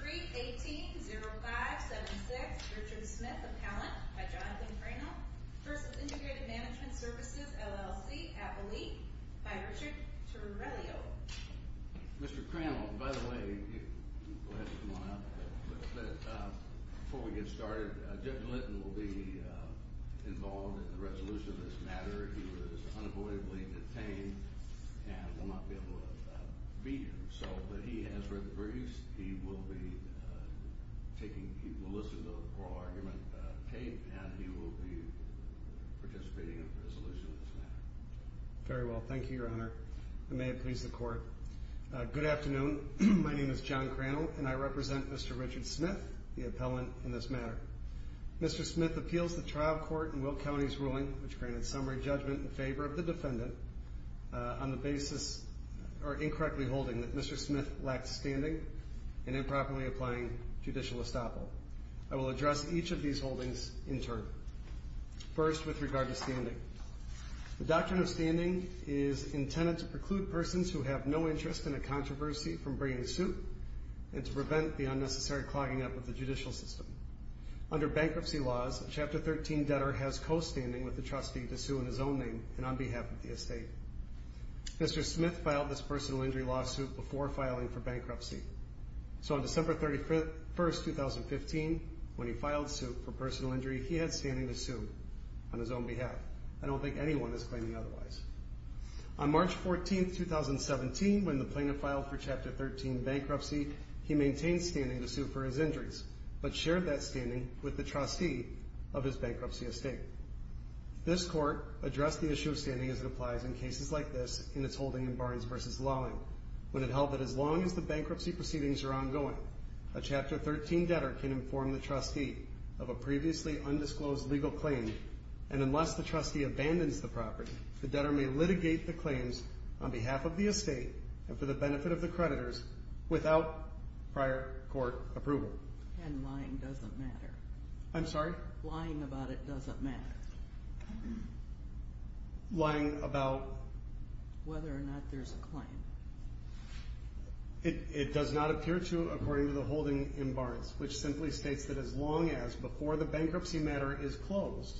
Brief 18-0576, Richard Smith, Appellant, by Jonathan Crannell, v. Integrated Management Services, LLC, Appellee, by Richard Torellio Mr. Crannell, by the way, go ahead and come on up. Before we get started, Jeff Linton will be involved in the resolution of this matter. He was unavoidably detained and will not be able to beat himself, but he has written briefs. He will listen to the oral argument tape, and he will be participating in the resolution of this matter. Very well. Thank you, Your Honor. I may have pleased the Court. Good afternoon. My name is John Crannell, and I represent Mr. Richard Smith, the appellant in this matter. Mr. Smith appeals the trial court in Will County's ruling, which granted summary judgment in favor of the defendant, on the basis, or incorrectly holding, that Mr. Smith lacked standing and improperly applying judicial estoppel. I will address each of these holdings in turn. First, with regard to standing. The doctrine of standing is intended to preclude persons who have no interest in a controversy from bringing suit and to prevent the unnecessary clogging up of the judicial system. Under bankruptcy laws, a Chapter 13 debtor has co-standing with the trustee to sue in his own name and on behalf of the estate. Mr. Smith filed this personal injury lawsuit before filing for bankruptcy. So on December 31, 2015, when he filed suit for personal injury, he had standing to sue on his own behalf. I don't think anyone is claiming otherwise. On March 14, 2017, when the plaintiff filed for Chapter 13 bankruptcy, he maintained standing to sue for his injuries, but shared that standing with the trustee of his bankruptcy estate. This court addressed the issue of standing as it applies in cases like this in its holding in Barnes v. Lawing, when it held that as long as the bankruptcy proceedings are ongoing, a Chapter 13 debtor can inform the trustee of a previously undisclosed legal claim, and unless the trustee abandons the property, the debtor may litigate the claims on behalf of the estate and for the benefit of the creditors without prior court approval. And lying doesn't matter. I'm sorry? Lying about it doesn't matter. Lying about? Whether or not there's a claim. It does not appear to, according to the holding in Barnes, which simply states that as long as before the bankruptcy matter is closed,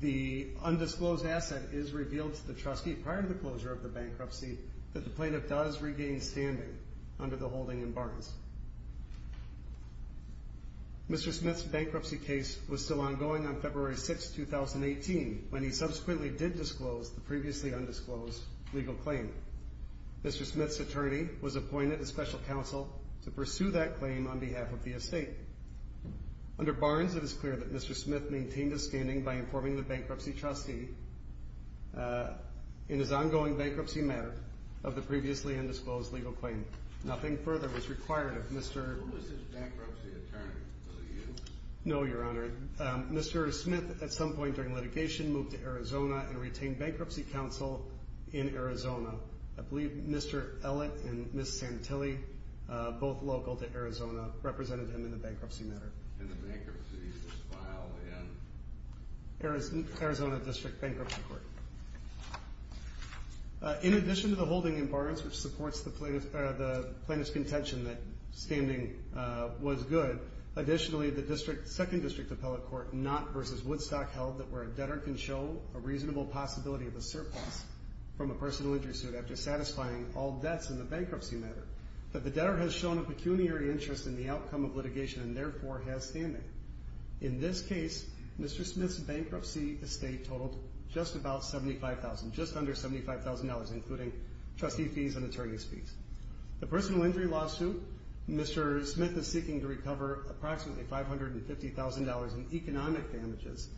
the undisclosed asset is revealed to the trustee prior to the closure of the bankruptcy that the plaintiff does regain standing under the holding in Barnes. Mr. Smith's bankruptcy case was still ongoing on February 6, 2018, when he subsequently did disclose the previously undisclosed legal claim. Mr. Smith's attorney was appointed a special counsel to pursue that claim on behalf of the estate. Under Barnes, it is clear that Mr. Smith maintained his standing by informing the bankruptcy trustee in his ongoing bankruptcy matter of the previously undisclosed legal claim. Nothing further was required of Mr. Who was his bankruptcy attorney? No, Your Honor. Mr. Smith, at some point during litigation, moved to Arizona and retained bankruptcy counsel in Arizona. I believe Mr. Ellett and Ms. Santilli, both local to Arizona, represented him in the bankruptcy matter. And the bankruptcy is filed in? Arizona District Bankruptcy Court. In addition to the holding in Barnes, which supports the plaintiff's contention that standing was good, additionally, the second district appellate court, Knott v. Woodstock, held that where a debtor can show a reasonable possibility of a surplus from a personal injury suit after satisfying all debts in the bankruptcy matter, that the debtor has shown a pecuniary interest in the outcome of litigation and therefore has standing. In this case, Mr. Smith's bankruptcy estate totaled just about $75,000, just under $75,000, including trustee fees and attorney's fees. The personal injury lawsuit, Mr. Smith is seeking to recover approximately $550,000 in economic damages.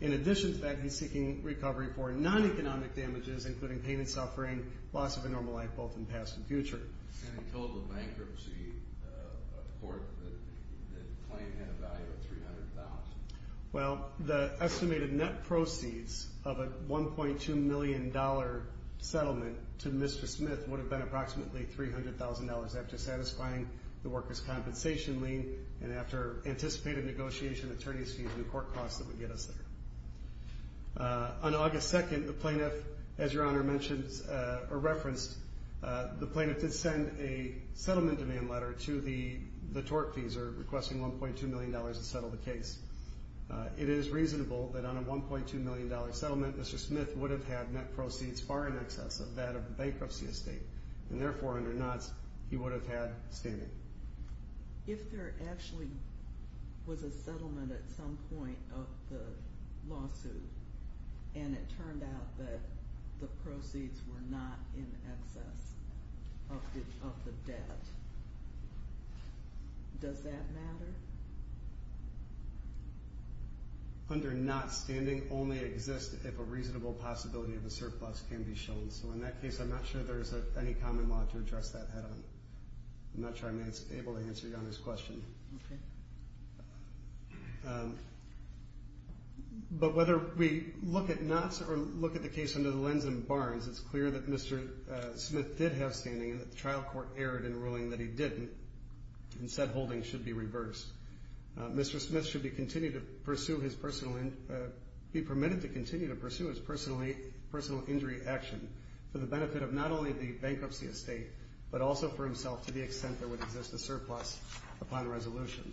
In addition to that, he's seeking recovery for non-economic damages, including pain and suffering, loss of a normal life, both in past and future. And the total bankruptcy of the court that claimed had a value of $300,000? Well, the estimated net proceeds of a $1.2 million settlement to Mr. Smith would have been approximately $300,000 after satisfying the worker's compensation lien and after anticipated negotiation, attorney's fees, and court costs that would get us there. On August 2nd, the plaintiff, as Your Honor mentioned or referenced, the plaintiff did send a settlement demand letter to the tortfeasor, requesting $1.2 million to settle the case. It is reasonable that on a $1.2 million settlement, Mr. Smith would have had net proceeds far in excess of that of the bankruptcy estate. And therefore, under nots, he would have had standing. If there actually was a settlement at some point of the lawsuit and it turned out that the proceeds were not in excess of the debt, does that matter? Under nots, standing only exists if a reasonable possibility of a surplus can be shown. So in that case, I'm not sure there's any common law to address that head-on. I'm not sure I'm able to answer Your Honor's question. Okay. But whether we look at nots or look at the case under the lens in Barnes, it's clear that Mr. Smith did have standing and that the trial court erred in ruling that he didn't and said holding should be reversed. Mr. Smith should be permitted to continue to pursue his personal injury action for the benefit of not only the bankruptcy estate, but also for himself to the extent there would exist a surplus upon resolution.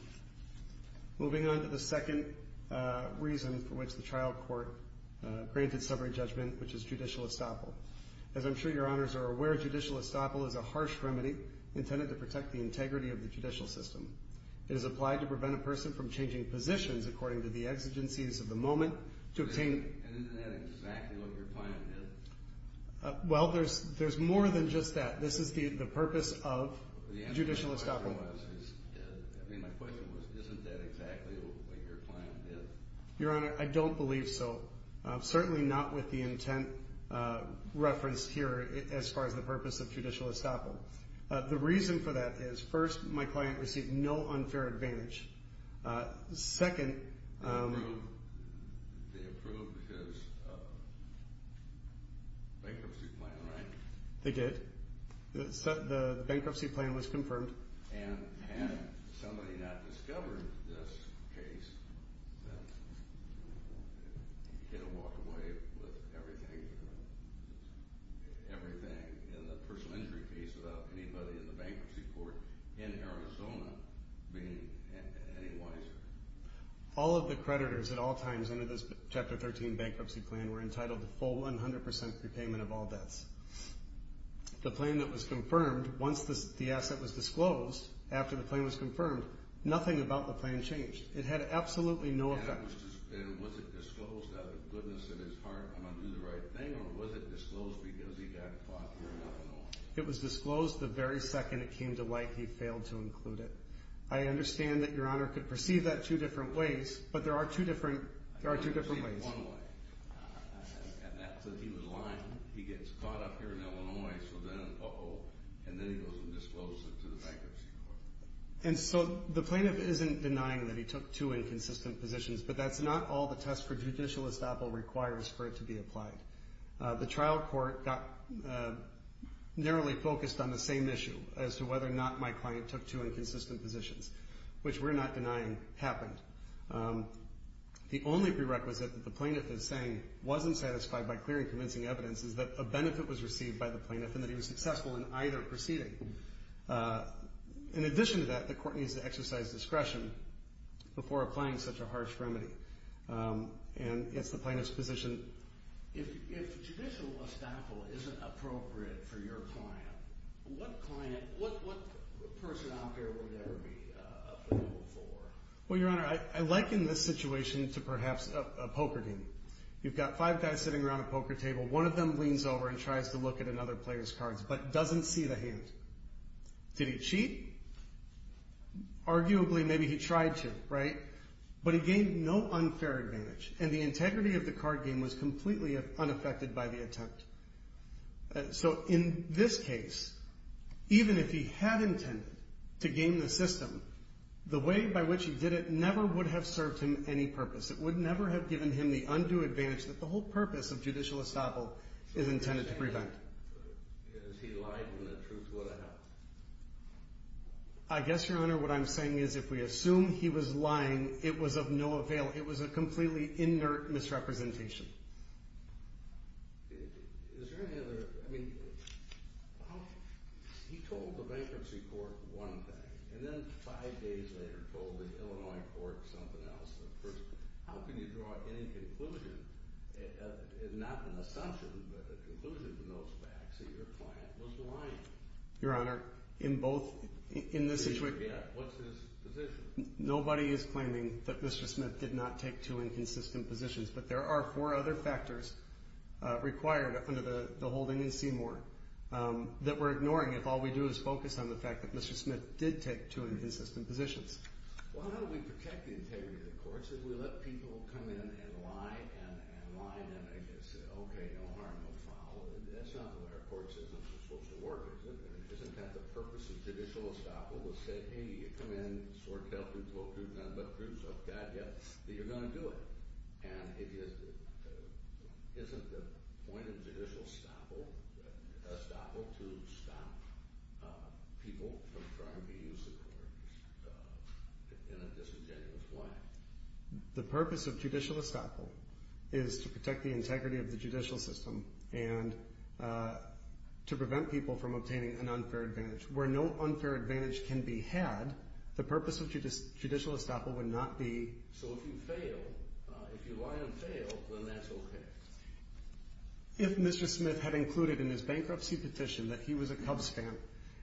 Moving on to the second reason for which the trial court granted summary judgment, which is judicial estoppel. As I'm sure Your Honors are aware, judicial estoppel is a harsh remedy intended to protect the integrity of the judicial system. It is applied to prevent a person from changing positions according to the exigencies of the moment. And isn't that exactly what your client did? Well, there's more than just that. This is the purpose of judicial estoppel. I mean, my question was, isn't that exactly what your client did? Your Honor, I don't believe so. Certainly not with the intent referenced here as far as the purpose of judicial estoppel. The reason for that is, first, my client received no unfair advantage. Second, they approved his bankruptcy plan, right? They did. The bankruptcy plan was confirmed. And had somebody not discovered this case, he could have walked away with everything in the personal injury case without anybody in the bankruptcy court in Arizona being any wiser. All of the creditors at all times under this Chapter 13 bankruptcy plan were entitled to full 100% repayment of all debts. The plan that was confirmed, once the asset was disclosed, after the plan was confirmed, nothing about the plan changed. It had absolutely no effect. And was it disclosed out of the goodness of his heart, I'm going to do the right thing, or was it disclosed because he got caught here in Illinois? It was disclosed the very second it came to light he failed to include it. I understand that your Honor could perceive that two different ways, but there are two different ways. And that's that he was lying. He gets caught up here in Illinois, so then, uh-oh, and then he goes and discloses it to the bankruptcy court. And so the plaintiff isn't denying that he took two inconsistent positions, but that's not all the test for judicial estoppel requires for it to be applied. The trial court got narrowly focused on the same issue, as to whether or not my client took two inconsistent positions, which we're not denying happened. The only prerequisite that the plaintiff is saying wasn't satisfied by clear and convincing evidence is that a benefit was received by the plaintiff and that he was successful in either proceeding. In addition to that, the court needs to exercise discretion before applying such a harsh remedy. And it's the plaintiff's position. If judicial estoppel isn't appropriate for your client, what client, what person out there would that be appropriate for? Well, Your Honor, I liken this situation to perhaps a poker game. You've got five guys sitting around a poker table. but doesn't see the hand. Did he cheat? Arguably, maybe he tried to, right? But he gained no unfair advantage, and the integrity of the card game was completely unaffected by the attempt. So in this case, even if he had intended to game the system, the way by which he did it never would have served him any purpose. It would never have given him the undue advantage that the whole purpose of judicial estoppel is intended to prevent. Because he lied and the truth would have helped. I guess, Your Honor, what I'm saying is if we assume he was lying, it was of no avail. It was a completely inert misrepresentation. Is there any other... He told the bankruptcy court one thing, and then five days later told the Illinois court something else. How can you draw any conclusion, not an assumption, but a conclusion from those facts, that your client was lying? Your Honor, in both... What's his position? Nobody is claiming that Mr. Smith did not take two inconsistent positions, but there are four other factors required under the holding in Seymour that we're ignoring if all we do is focus on the fact that Mr. Smith did take two inconsistent positions. Well, how do we protect the integrity of the courts if we let people come in and lie and lie, and I guess say, okay, no harm will follow? That's not the way our courts are supposed to work. Isn't that the purpose of judicial estoppel to say, hey, you come in, sort it out, there's no proof, none but proof, so I've got you, that you're going to do it. And isn't the point of judicial estoppel to stop people from trying to use the court in a disingenuous way? The purpose of judicial estoppel is to protect the integrity of the judicial system and to prevent people from obtaining an unfair advantage. Where no unfair advantage can be had, the purpose of judicial estoppel would not be... So if you fail, if you lie and fail, then that's okay? If Mr. Smith had included in his bankruptcy petition that he was a cubs fan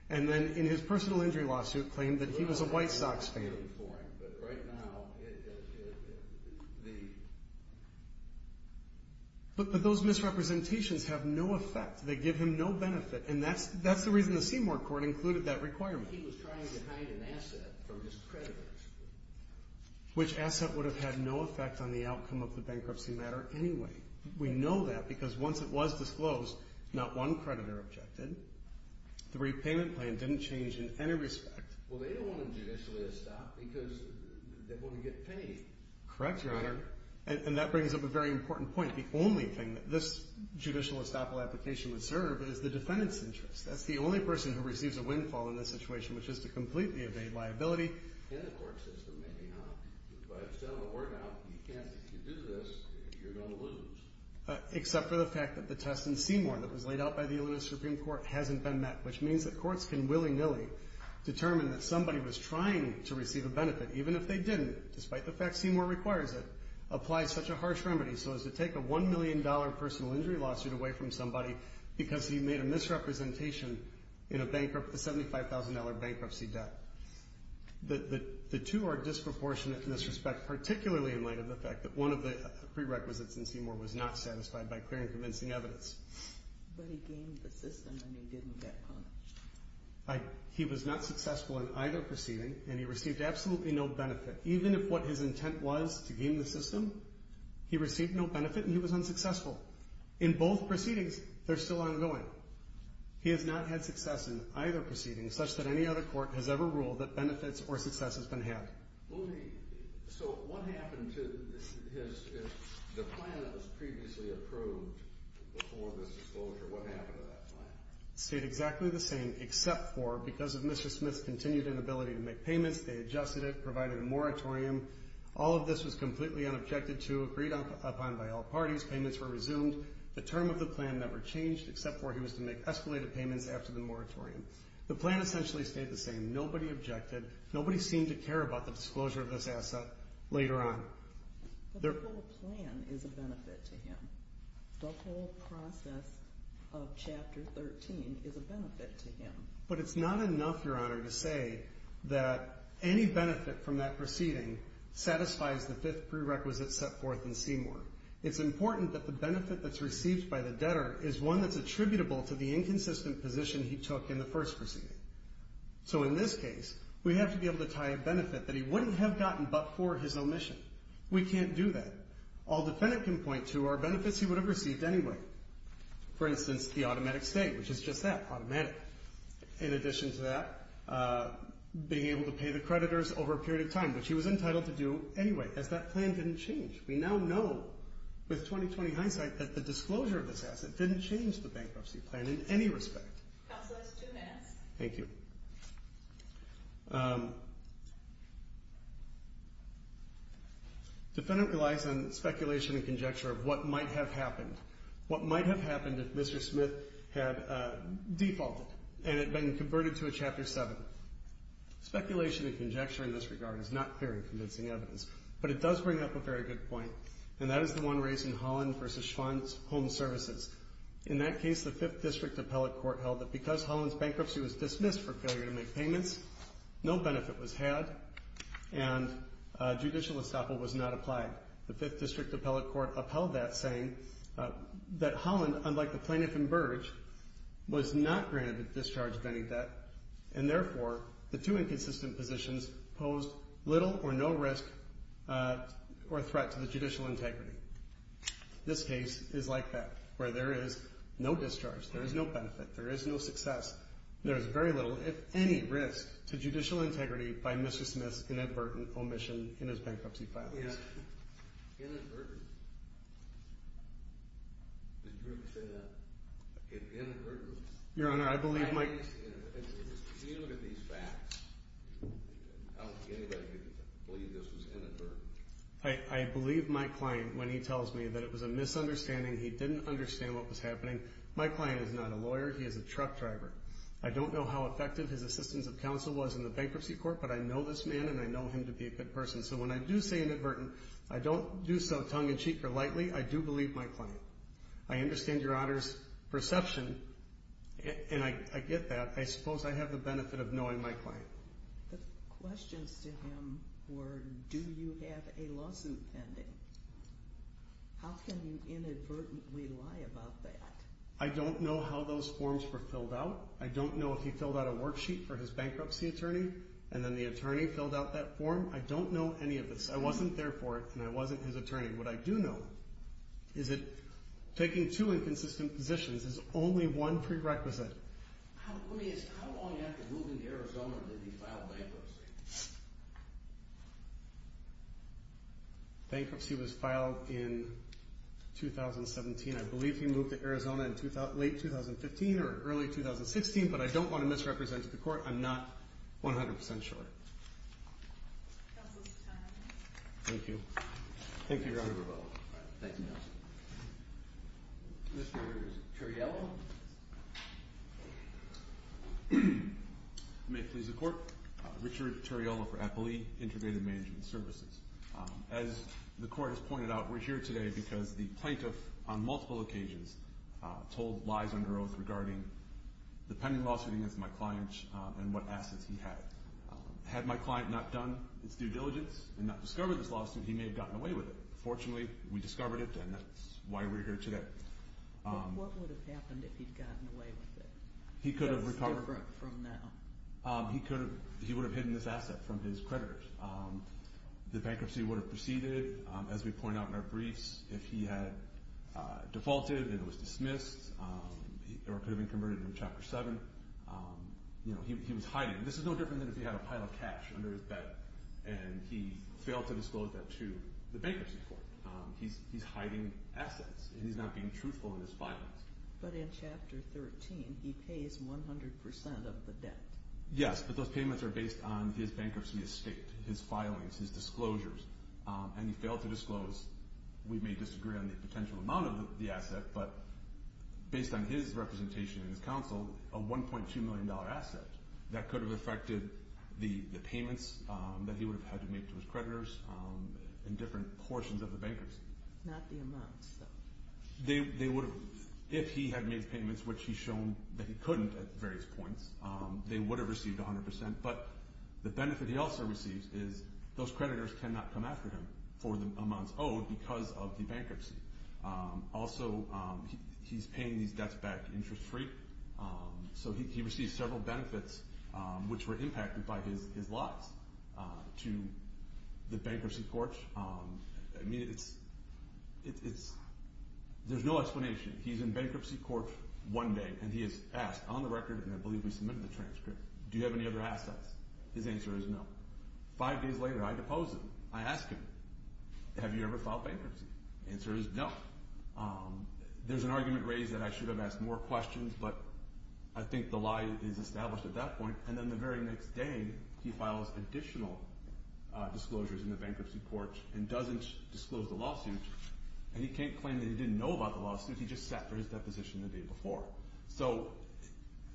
and then in his personal injury lawsuit claimed that he was a White Sox fan... But those misrepresentations have no effect. They give him no benefit, and that's the reason the Seymour Court included that requirement. Which asset would have had no effect on the outcome of the bankruptcy matter anyway? We know that because once it was disclosed, not one creditor objected, the repayment plan didn't change in any respect. Correct, Your Honor. And that brings up a very important point. The only thing that this judicial estoppel application would serve is the defendant's interest. That's the only person who receives a windfall in this situation, which is to completely evade liability. Except for the fact that the test in Seymour that was laid out by the Illinois Supreme Court hasn't been met, which means that courts can willy-nilly determine that somebody was trying to receive a benefit, even if they didn't, despite the fact Seymour requires it, applies such a harsh remedy so as to take a $1 million personal injury lawsuit away from somebody because he made a misrepresentation in a $75,000 bankruptcy debt. The two are disproportionate in this respect, particularly in light of the fact that one of the prerequisites in Seymour was not satisfied by clear and convincing evidence. But he gained the system and he didn't get punished. He was not successful in either proceeding and he received absolutely no benefit. Even if what his intent was to gain the system, he received no benefit and he was unsuccessful. In both proceedings, they're still ongoing. He has not had success in either proceeding such that any other court has ever ruled that benefits or success has been had. So what happened to his... The plan that was previously approved before this disclosure, what happened to that plan? It stayed exactly the same, except for, because of Mr. Smith's continued inability to make payments, they adjusted it, provided a moratorium. All of this was completely unobjected to, agreed upon by all parties. Payments were resumed. The term of the plan never changed, except for he was to make escalated payments after the moratorium. The plan essentially stayed the same. Nobody objected. Nobody seemed to care about the disclosure of this asset later on. The whole plan is a benefit to him. The whole process of Chapter 13 is a benefit to him. But it's not enough, Your Honor, to say that any benefit from that proceeding satisfies the fifth prerequisite set forth in Seymour. It's important that the benefit that's received by the debtor is one that's attributable to the inconsistent position he took in the first proceeding. So in this case, we have to be able to tie a benefit that he wouldn't have gotten but for his omission. We can't do that. All the defendant can point to are benefits he would have received anyway. For instance, the automatic stay, which is just that, automatic. In addition to that, being able to pay the creditors over a period of time, which he was entitled to do anyway, as that plan didn't change. We now know, with 20-20 hindsight, that the disclosure of this asset didn't change the bankruptcy plan in any respect. Counselors, two minutes. Thank you. Defendant relies on speculation and conjecture of what might have happened. What might have happened if Mr. Smith had defaulted and had been converted to a Chapter 7? Speculation and conjecture in this regard is not clear and convincing evidence, but it does bring up a very good point, and that is the one raised in Holland v. Schwann's Home Services. In that case, the Fifth District Appellate Court held that because Holland's bankruptcy was dismissed for failure to make payments, no benefit was had, and judicial estoppel was not applied. The Fifth District Appellate Court upheld that, saying that Holland, unlike the plaintiff in Burge, was not granted the discharge of any debt, and therefore the two inconsistent positions posed little or no risk or threat to the judicial integrity. This case is like that, where there is no discharge, there is no benefit, there is no success, there is very little, if any, risk to judicial integrity by Mr. Smith's inadvertent omission in his bankruptcy filings. Inadvertent? Did you ever say that? Inadvertent? Your Honor, I believe my... Can you look at these facts? I don't think anybody could believe this was inadvertent. I believe my client when he tells me that it was a misunderstanding, he didn't understand what was happening. My client is not a lawyer, he is a truck driver. I don't know how effective his assistance of counsel was in the bankruptcy court, but I know this man and I know him to be a good person. So when I do say inadvertent, I don't do so tongue-in-cheek or lightly, I do believe my client. I understand Your Honor's perception, and I get that. I suppose I have the benefit of knowing my client. The questions to him were, do you have a lawsuit pending? How can you inadvertently lie about that? I don't know how those forms were filled out. I don't know if he filled out a worksheet for his bankruptcy attorney, and then the attorney filled out that form. I don't know any of this. I wasn't there for it, and I wasn't his attorney. What I do know is that taking two inconsistent positions is only one prerequisite. How long after moving to Arizona did he file bankruptcy? Bankruptcy was filed in 2017. I believe he moved to Arizona in late 2015 or early 2016, but I don't want to misrepresent the Court. I'm not 100% sure. Thank you. Thank you, Your Honor. Thank you, Your Honor. Mr. Terriello. May it please the Court. Richard Terriello for Appleea Integrated Management Services. As the Court has pointed out, we're here today because the plaintiff on multiple occasions told lies under oath regarding the pending lawsuit against my client and what assets he had. Had my client not done its due diligence and not discovered this lawsuit, he may have gotten away with it. Fortunately, we discovered it, and that's why we're here today. What would have happened if he'd gotten away with it? He could have recovered. So it's different from now. He would have hidden this asset from his creditors. The bankruptcy would have proceeded. As we point out in our briefs, if he had defaulted and it was dismissed, it could have been converted in Chapter 7. He was hiding. This is no different than if he had a pile of cash under his bed and he failed to disclose that to the bankruptcy court. He's hiding assets, and he's not being truthful in his filings. But in Chapter 13, he pays 100% of the debt. Yes, but those payments are based on his bankruptcy estate, his filings, his disclosures, and he failed to disclose, we may disagree on the potential amount of the asset, but based on his representation in his counsel, a $1.2 million asset. That could have affected the payments that he would have had to make to his creditors in different portions of the bankruptcy. Not the amounts, though. If he had made payments, which he's shown that he couldn't at various points, they would have received 100%. But the benefit he also receives is those creditors cannot come after him for the amounts owed because of the bankruptcy. Also, he's paying these debts back interest-free, so he receives several benefits which were impacted by his lies to the bankruptcy court. There's no explanation. He's in bankruptcy court one day, and he is asked on the record, and I believe we submitted the transcript, do you have any other assets? His answer is no. Five days later, I depose him. I ask him, have you ever filed bankruptcy? The answer is no. There's an argument raised that I should have asked more questions, but I think the lie is established at that point. And then the very next day, he files additional disclosures in the bankruptcy court and doesn't disclose the lawsuit. And he can't claim that he didn't know about the lawsuit. He just sat for his deposition the day before. So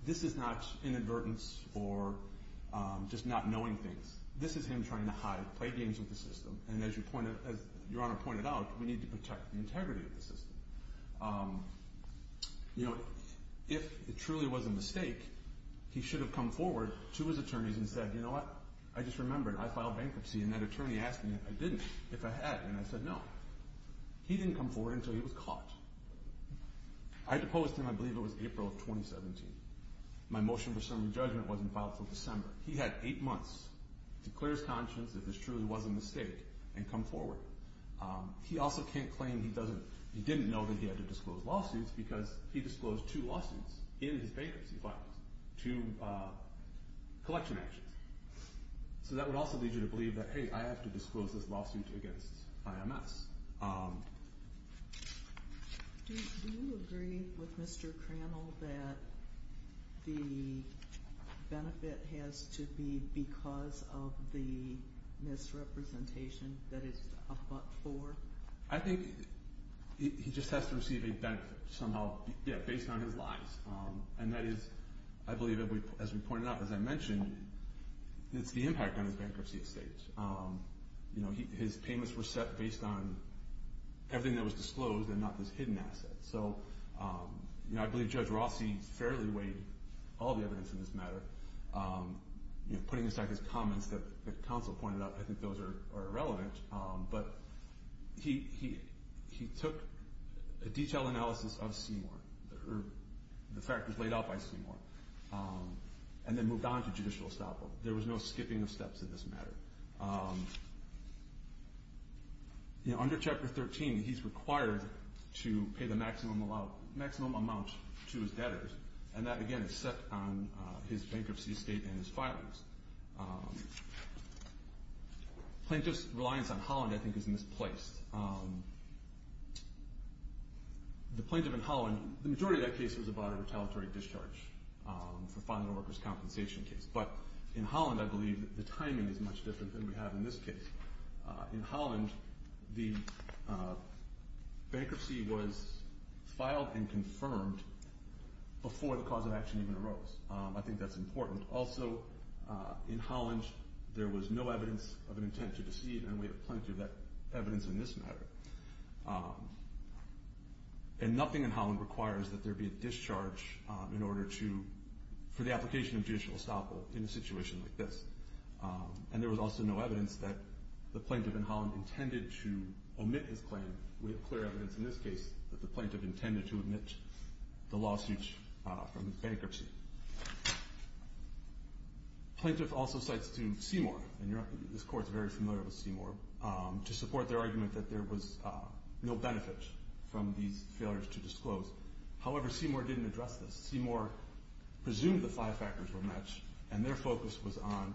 this is not inadvertence or just not knowing things. This is him trying to hide, play games with the system, and as Your Honor pointed out, we need to protect the integrity of the system. You know, if it truly was a mistake, he should have come forward to his attorneys and said, you know what, I just remembered I filed bankruptcy, and that attorney asked me if I didn't, if I had, and I said no. He didn't come forward until he was caught. I deposed him, I believe it was April of 2017. My motion for summary judgment wasn't filed until December. He had eight months to clear his conscience that this truly was a mistake and come forward. He also can't claim he doesn't, he didn't know that he had to disclose lawsuits because he disclosed two lawsuits in his bankruptcy files, two collection actions. So that would also lead you to believe that, hey, I have to disclose this lawsuit against IMS. Do you agree with Mr. Crannell that the benefit has to be because of the misrepresentation that is up for? I think he just has to receive a benefit somehow based on his lies, and that is, I believe, as we pointed out, as I mentioned, it's the impact on his bankruptcy estate. His payments were set based on everything that was disclosed and not this hidden asset. So I believe Judge Rossi fairly weighed all the evidence in this matter. Putting aside his comments that the counsel pointed out, I think those are irrelevant, but he took a detailed analysis of Seymour, or the factors laid out by Seymour, and then moved on to judicial estoppel. There was no skipping of steps in this matter. Under Chapter 13, he's required to pay the maximum amount to his debtors, and that, again, is set on his bankruptcy estate and his filings. Plaintiff's reliance on Holland, I think, is misplaced. The plaintiff in Holland, the majority of that case was about a retaliatory discharge for filing a workers' compensation case, but in Holland, I believe, the timing is much different than we have in this case. In Holland, the bankruptcy was filed and confirmed before the cause of action even arose. I think that's important. Also, in Holland, there was no evidence of an intent to deceive, and we have plenty of that evidence in this matter. And nothing in Holland requires that there be a discharge for the application of judicial estoppel in a situation like this. And there was also no evidence that the plaintiff in Holland intended to omit his claim. We have clear evidence in this case that the plaintiff intended to omit the lawsuit from the bankruptcy. Plaintiff also cites to Seymour, and this Court is very familiar with Seymour, to support their argument that there was no benefit from these failures to disclose. However, Seymour didn't address this. Seymour presumed the five factors were matched, and their focus was on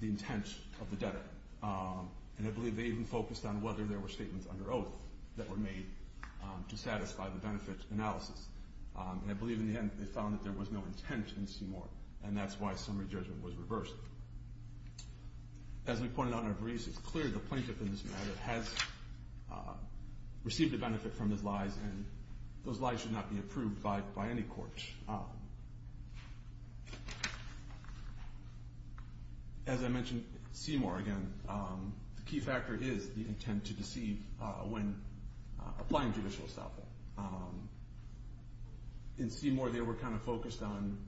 the intent of the debtor. And I believe they even focused on whether there were statements under oath that were made to satisfy the benefit analysis. And I believe, in the end, they found that there was no intent in Seymour, and that's why summary judgment was reversed. As we pointed out in our briefs, it's clear the plaintiff in this matter has received a benefit from his lies, and those lies should not be approved by any court. As I mentioned, Seymour, again, the key factor is the intent to deceive when applying judicial estoppel. In Seymour, they were kind of focused on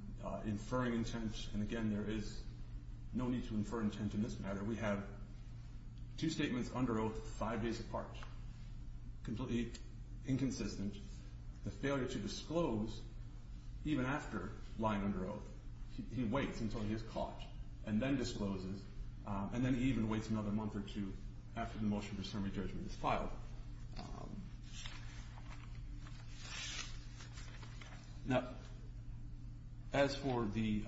inferring intent, and again, there is no need to infer intent in this matter. We have two statements under oath five days apart, completely inconsistent. The failure to disclose, even after lying under oath, he waits until he is caught and then discloses, and then he even waits another month or two after the motion for summary judgment is filed. Now, as for the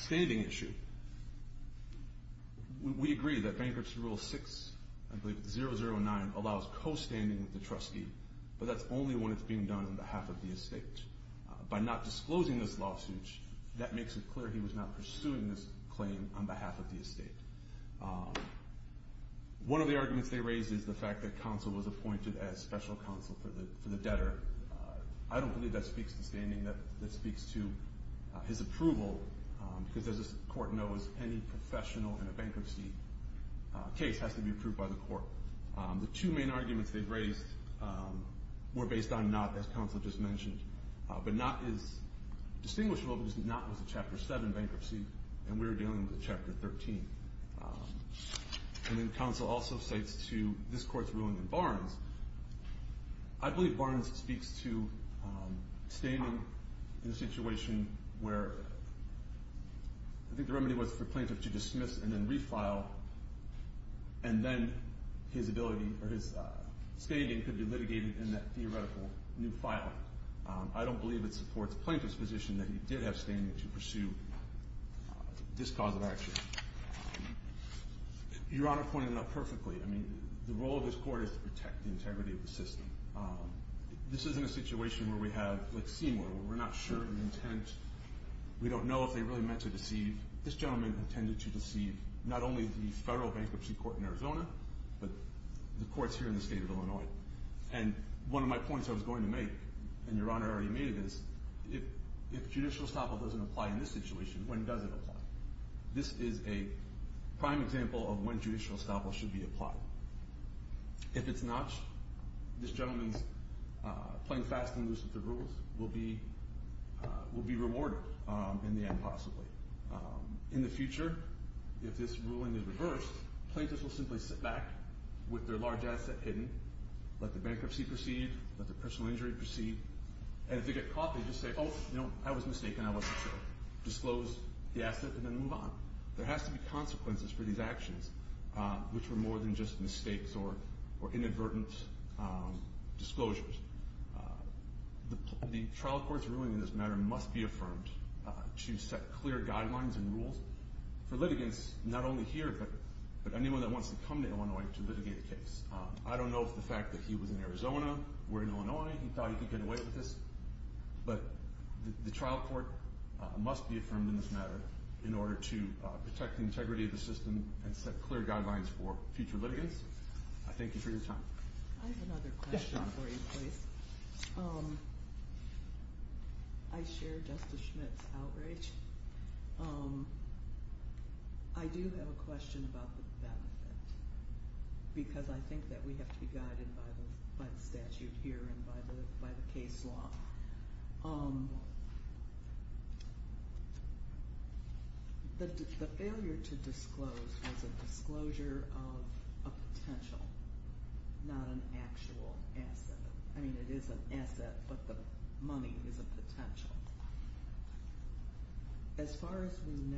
standing issue, we agree that Bankruptcy Rule 6, I believe it's 009, allows co-standing with the trustee, but that's only when it's being done on behalf of the estate. By not disclosing this lawsuit, that makes it clear he was not pursuing this claim on behalf of the estate. One of the arguments they raised is the fact that counsel was appointed as special counsel for the debtor. I don't believe that speaks to standing. That speaks to his approval because, as this court knows, any professional in a bankruptcy case has to be approved by the court. The two main arguments they've raised were based on not, as counsel just mentioned, but not is distinguishable because not was a Chapter 7 bankruptcy, and we're dealing with a Chapter 13. And then counsel also cites to this court's ruling in Barnes. I believe Barnes speaks to standing in a situation where I think the remedy was for plaintiff to dismiss and then refile, and then his ability or his standing could be litigated in that theoretical new filing. I don't believe it supports plaintiff's position that he did have standing to pursue this cause of action. Your Honor pointed it out perfectly. I mean, the role of this court is to protect the integrity of the system. This isn't a situation where we have, like Seymour, where we're not sure of intent. We don't know if they really meant to deceive. This gentleman intended to deceive not only the federal bankruptcy court in Arizona, but the courts here in the state of Illinois. And one of my points I was going to make, and Your Honor already made it, is if judicial estoppel doesn't apply in this situation, when does it apply? This is a prime example of when judicial estoppel should be applied. If it's not, this gentleman's playing fast and loose with the rules will be rewarded in the end, possibly. In the future, if this ruling is reversed, plaintiffs will simply sit back with their large asset hidden, let the bankruptcy proceed, let the personal injury proceed. And if they get caught, they just say, oh, no, I was mistaken, I wasn't sure, disclose the asset, and then move on. There has to be consequences for these actions, which are more than just mistakes or inadvertent disclosures. The trial court's ruling in this matter must be affirmed to set clear guidelines and rules for litigants not only here, but anyone that wants to come to Illinois to litigate a case. I don't know if the fact that he was in Arizona, we're in Illinois, he thought he could get away with this. But the trial court must be affirmed in this matter in order to protect the integrity of the system and set clear guidelines for future litigants. I thank you for your time. I have another question for you, please. I share Justice Schmitt's outrage. I do have a question about the benefit, because I think that we have to be guided by the statute here and by the case law. The failure to disclose was a disclosure of a potential, not an actual asset. I mean, it is an asset, but the money is a potential. As far as we know,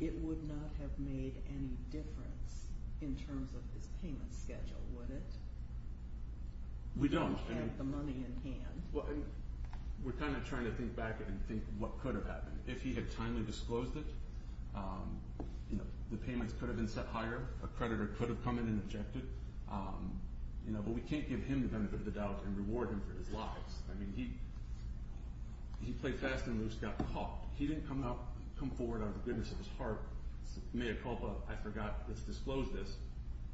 it would not have made any difference in terms of his payment schedule, would it? We don't. We're kind of trying to think back and think what could have happened. If he had timely disclosed it, the payments could have been set higher. A creditor could have come in and objected. But we can't give him the benefit of the doubt and reward him for his lies. I mean, he played fast and loose, got caught. He didn't come forward out of the goodness of his heart. I forgot it's disclosed this.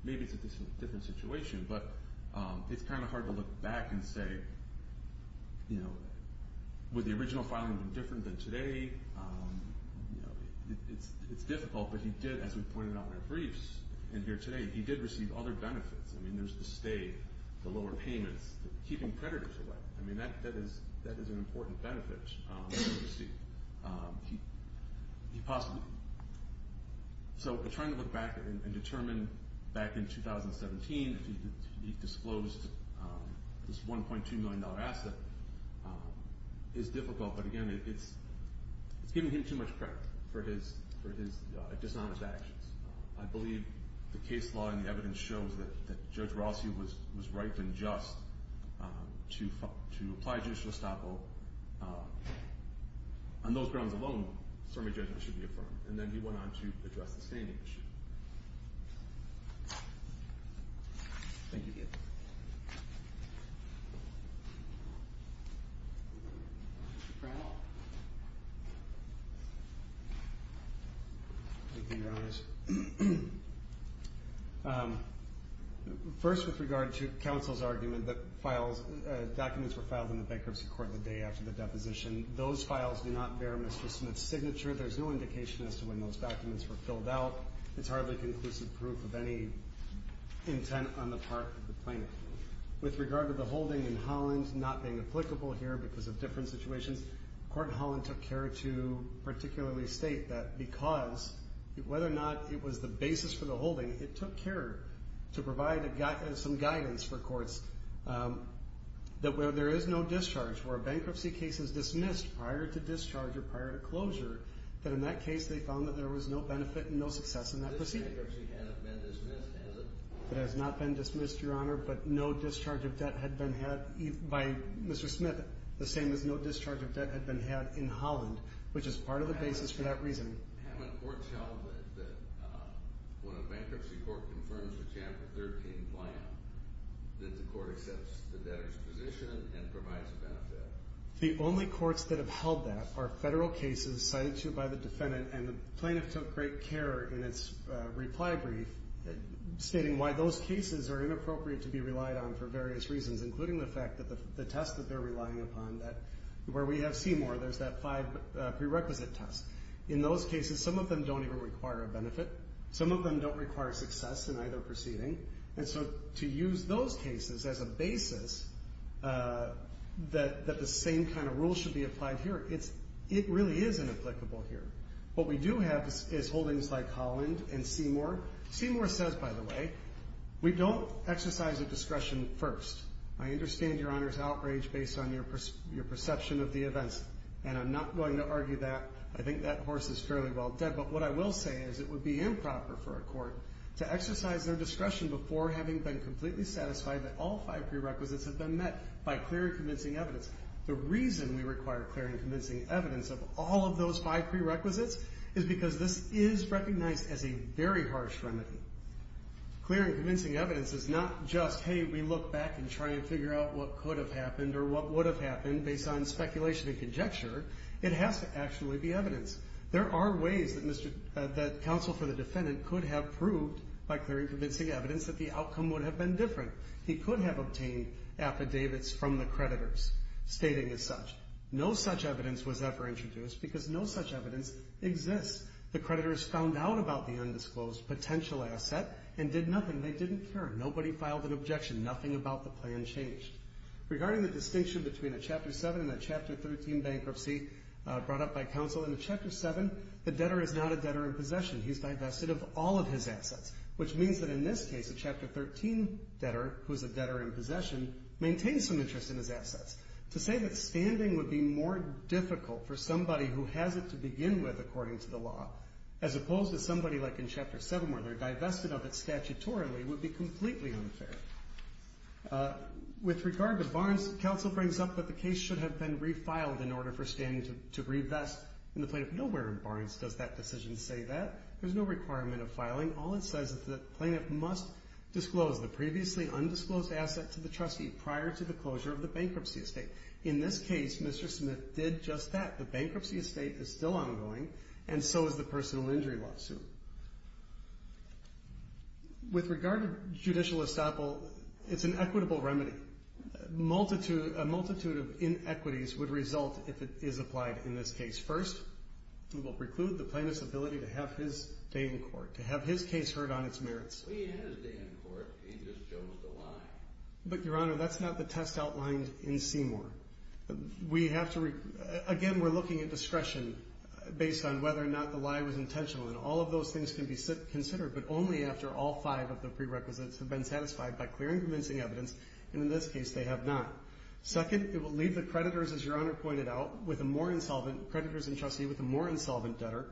Maybe it's a different situation. But it's kind of hard to look back and say, would the original filing have been different than today? It's difficult, but he did, as we pointed out in our briefs and here today, he did receive other benefits. I mean, there's the stay, the lower payments, keeping creditors away. I mean, that is an important benefit that he received. So we're trying to look back and determine back in 2017 if he disclosed this $1.2 million asset. It's difficult, but, again, it's giving him too much credit for his dishonest actions. I believe the case law and the evidence shows that Judge Rossi was right and just to apply judicial estoppel. On those grounds alone, Sermey judgment should be affirmed. And then he went on to address the standing issue. Thank you. Thank you. First, with regard to counsel's argument that documents were filed in the bankruptcy court the day after the deposition, those files do not bear Mr. Smith's signature. There's no indication as to when those documents were filled out. It's hardly conclusive proof of any intent on the part of the plaintiff. With regard to the holding in Holland not being applicable here because of different situations, Court in Holland took care to particularly state that because whether or not it was the basis for the holding, it took care to provide some guidance for courts that where there is no discharge, where a bankruptcy case is dismissed prior to discharge or prior to closure, that in that case they found that there was no benefit and no success in that proceeding. This bankruptcy hasn't been dismissed, has it? It has not been dismissed, Your Honor, but no discharge of debt had been had by Mr. Smith, the same as no discharge of debt had been had in Holland, which is part of the basis for that reasoning. Haven't courts held that when a bankruptcy court confirms a Chapter 13 plan, that the court accepts the debtor's position and provides a benefit? The only courts that have held that are Federal cases cited to by the defendant, and the plaintiff took great care in its reply brief stating why those cases are inappropriate to be relied on for various reasons, including the fact that the test that they're relying upon, where we have Seymour, there's that five prerequisite test. In those cases, some of them don't even require a benefit. Some of them don't require success in either proceeding. And so to use those cases as a basis that the same kind of rule should be applied here, it really is inapplicable here. What we do have is holdings like Holland and Seymour. Seymour says, by the way, we don't exercise a discretion first. I understand Your Honor's outrage based on your perception of the events, and I'm not going to argue that. I think that horse is fairly well dead. But what I will say is it would be improper for a court to exercise their discretion before having been completely satisfied that all five prerequisites have been met by clear and convincing evidence. The reason we require clear and convincing evidence of all of those five prerequisites is because this is recognized as a very harsh remedy. Clear and convincing evidence is not just, hey, we look back and try and figure out what could have happened or what would have happened based on speculation and conjecture. It has to actually be evidence. There are ways that counsel for the defendant could have proved by clear and convincing evidence that the outcome would have been different. He could have obtained affidavits from the creditors stating as such. No such evidence was ever introduced because no such evidence exists. The creditors found out about the undisclosed potential asset and did nothing. They didn't care. Nobody filed an objection. Nothing about the plan changed. Regarding the distinction between a Chapter 7 and a Chapter 13 bankruptcy brought up by counsel in Chapter 7, the debtor is not a debtor in possession. He's divested of all of his assets, which means that in this case a Chapter 13 debtor, who's a debtor in possession, maintains some interest in his assets. To say that standing would be more difficult for somebody who has it to begin with according to the law as opposed to somebody like in Chapter 7 where they're divested of it statutorily would be completely unfair. With regard to Barnes, counsel brings up that the case should have been refiled in order for standing to reinvest in the plaintiff. Nowhere in Barnes does that decision say that. There's no requirement of filing. All it says is that the plaintiff must disclose the previously undisclosed asset to the trustee prior to the closure of the bankruptcy estate. In this case, Mr. Smith did just that. The bankruptcy estate is still ongoing, and so is the personal injury lawsuit. With regard to judicial estoppel, it's an equitable remedy. A multitude of inequities would result if it is applied in this case. First, we will preclude the plaintiff's ability to have his day in court, to have his case heard on its merits. Well, he had his day in court. He just chose to lie. But, Your Honor, that's not the test outlined in Seymour. Again, we're looking at discretion based on whether or not the lie was intentional, and all of those things can be considered but only after all five of the prerequisites have been satisfied by clear and convincing evidence, and in this case they have not. Second, it will leave the creditors, as Your Honor pointed out, with a more insolvent creditor and trustee with a more insolvent debtor.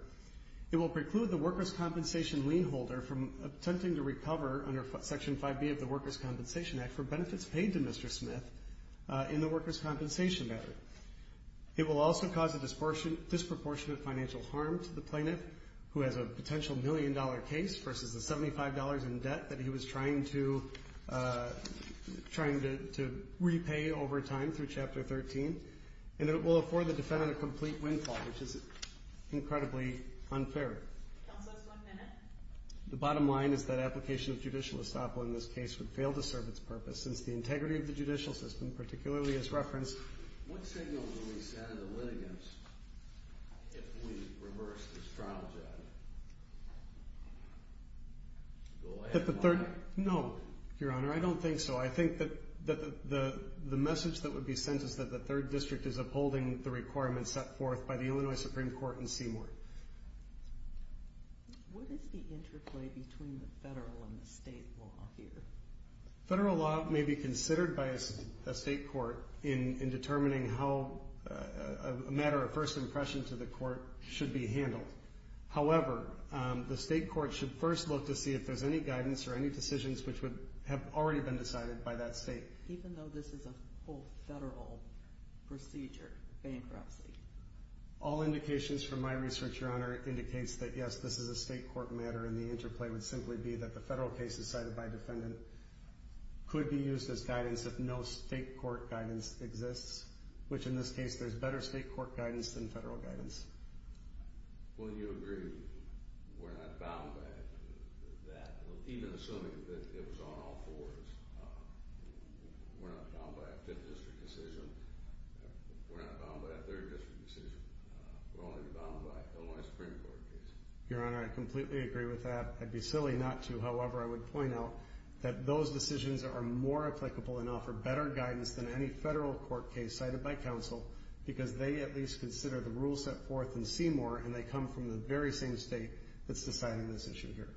It will preclude the workers' compensation lien holder from attempting to recover under Section 5B of the Workers' Compensation Act for benefits paid to Mr. Smith in the workers' compensation matter. It will also cause a disproportionate financial harm to the plaintiff who has a potential million-dollar case versus the $75 in debt that he was trying to repay over time through Chapter 13, and it will afford the defendant a complete windfall, which is incredibly unfair. Counsel, just one minute. The bottom line is that application of judicial estoppel in this case would fail to serve its purpose since the integrity of the judicial system, particularly as referenced. What signal will we send to the litigants if we reverse this trial, Judge? Go ahead, Your Honor. No, Your Honor, I don't think so. I think that the message that would be sent is that the 3rd District is upholding the requirements set forth by the Illinois Supreme Court in Seymour. What is the interplay between the federal and the state law here? Federal law may be considered by a state court in determining how a matter of first impression to the court should be handled. However, the state court should first look to see if there's any guidance or any decisions which would have already been decided by that state. Even though this is a whole federal procedure, bankruptcy? All indications from my research, Your Honor, indicates that, yes, this is a state court matter, and the interplay would simply be that the federal case decided by a defendant could be used as guidance if no state court guidance exists, which in this case, there's better state court guidance than federal guidance. Well, you agree we're not bound by that, even assuming that it was on all fours. We're not bound by a 5th District decision. We're not bound by a 3rd District decision. We're only bound by an Illinois Supreme Court case. Your Honor, I completely agree with that. I'd be silly not to, however, I would point out that those decisions are more applicable and offer better guidance than any federal court case cited by counsel because they at least consider the rules set forth in Seymour, and they come from the very same state that's deciding this issue here.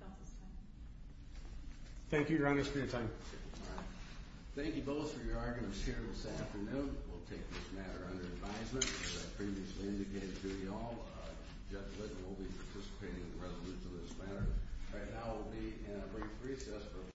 Counsel's time. Thank you, Your Honor, for your time. Thank you both for your arguments here this afternoon. We'll take this matter under advisement. As I previously indicated to you all, Judge Litton will be participating in the resolution of this matter. Right now we'll be in a brief recess.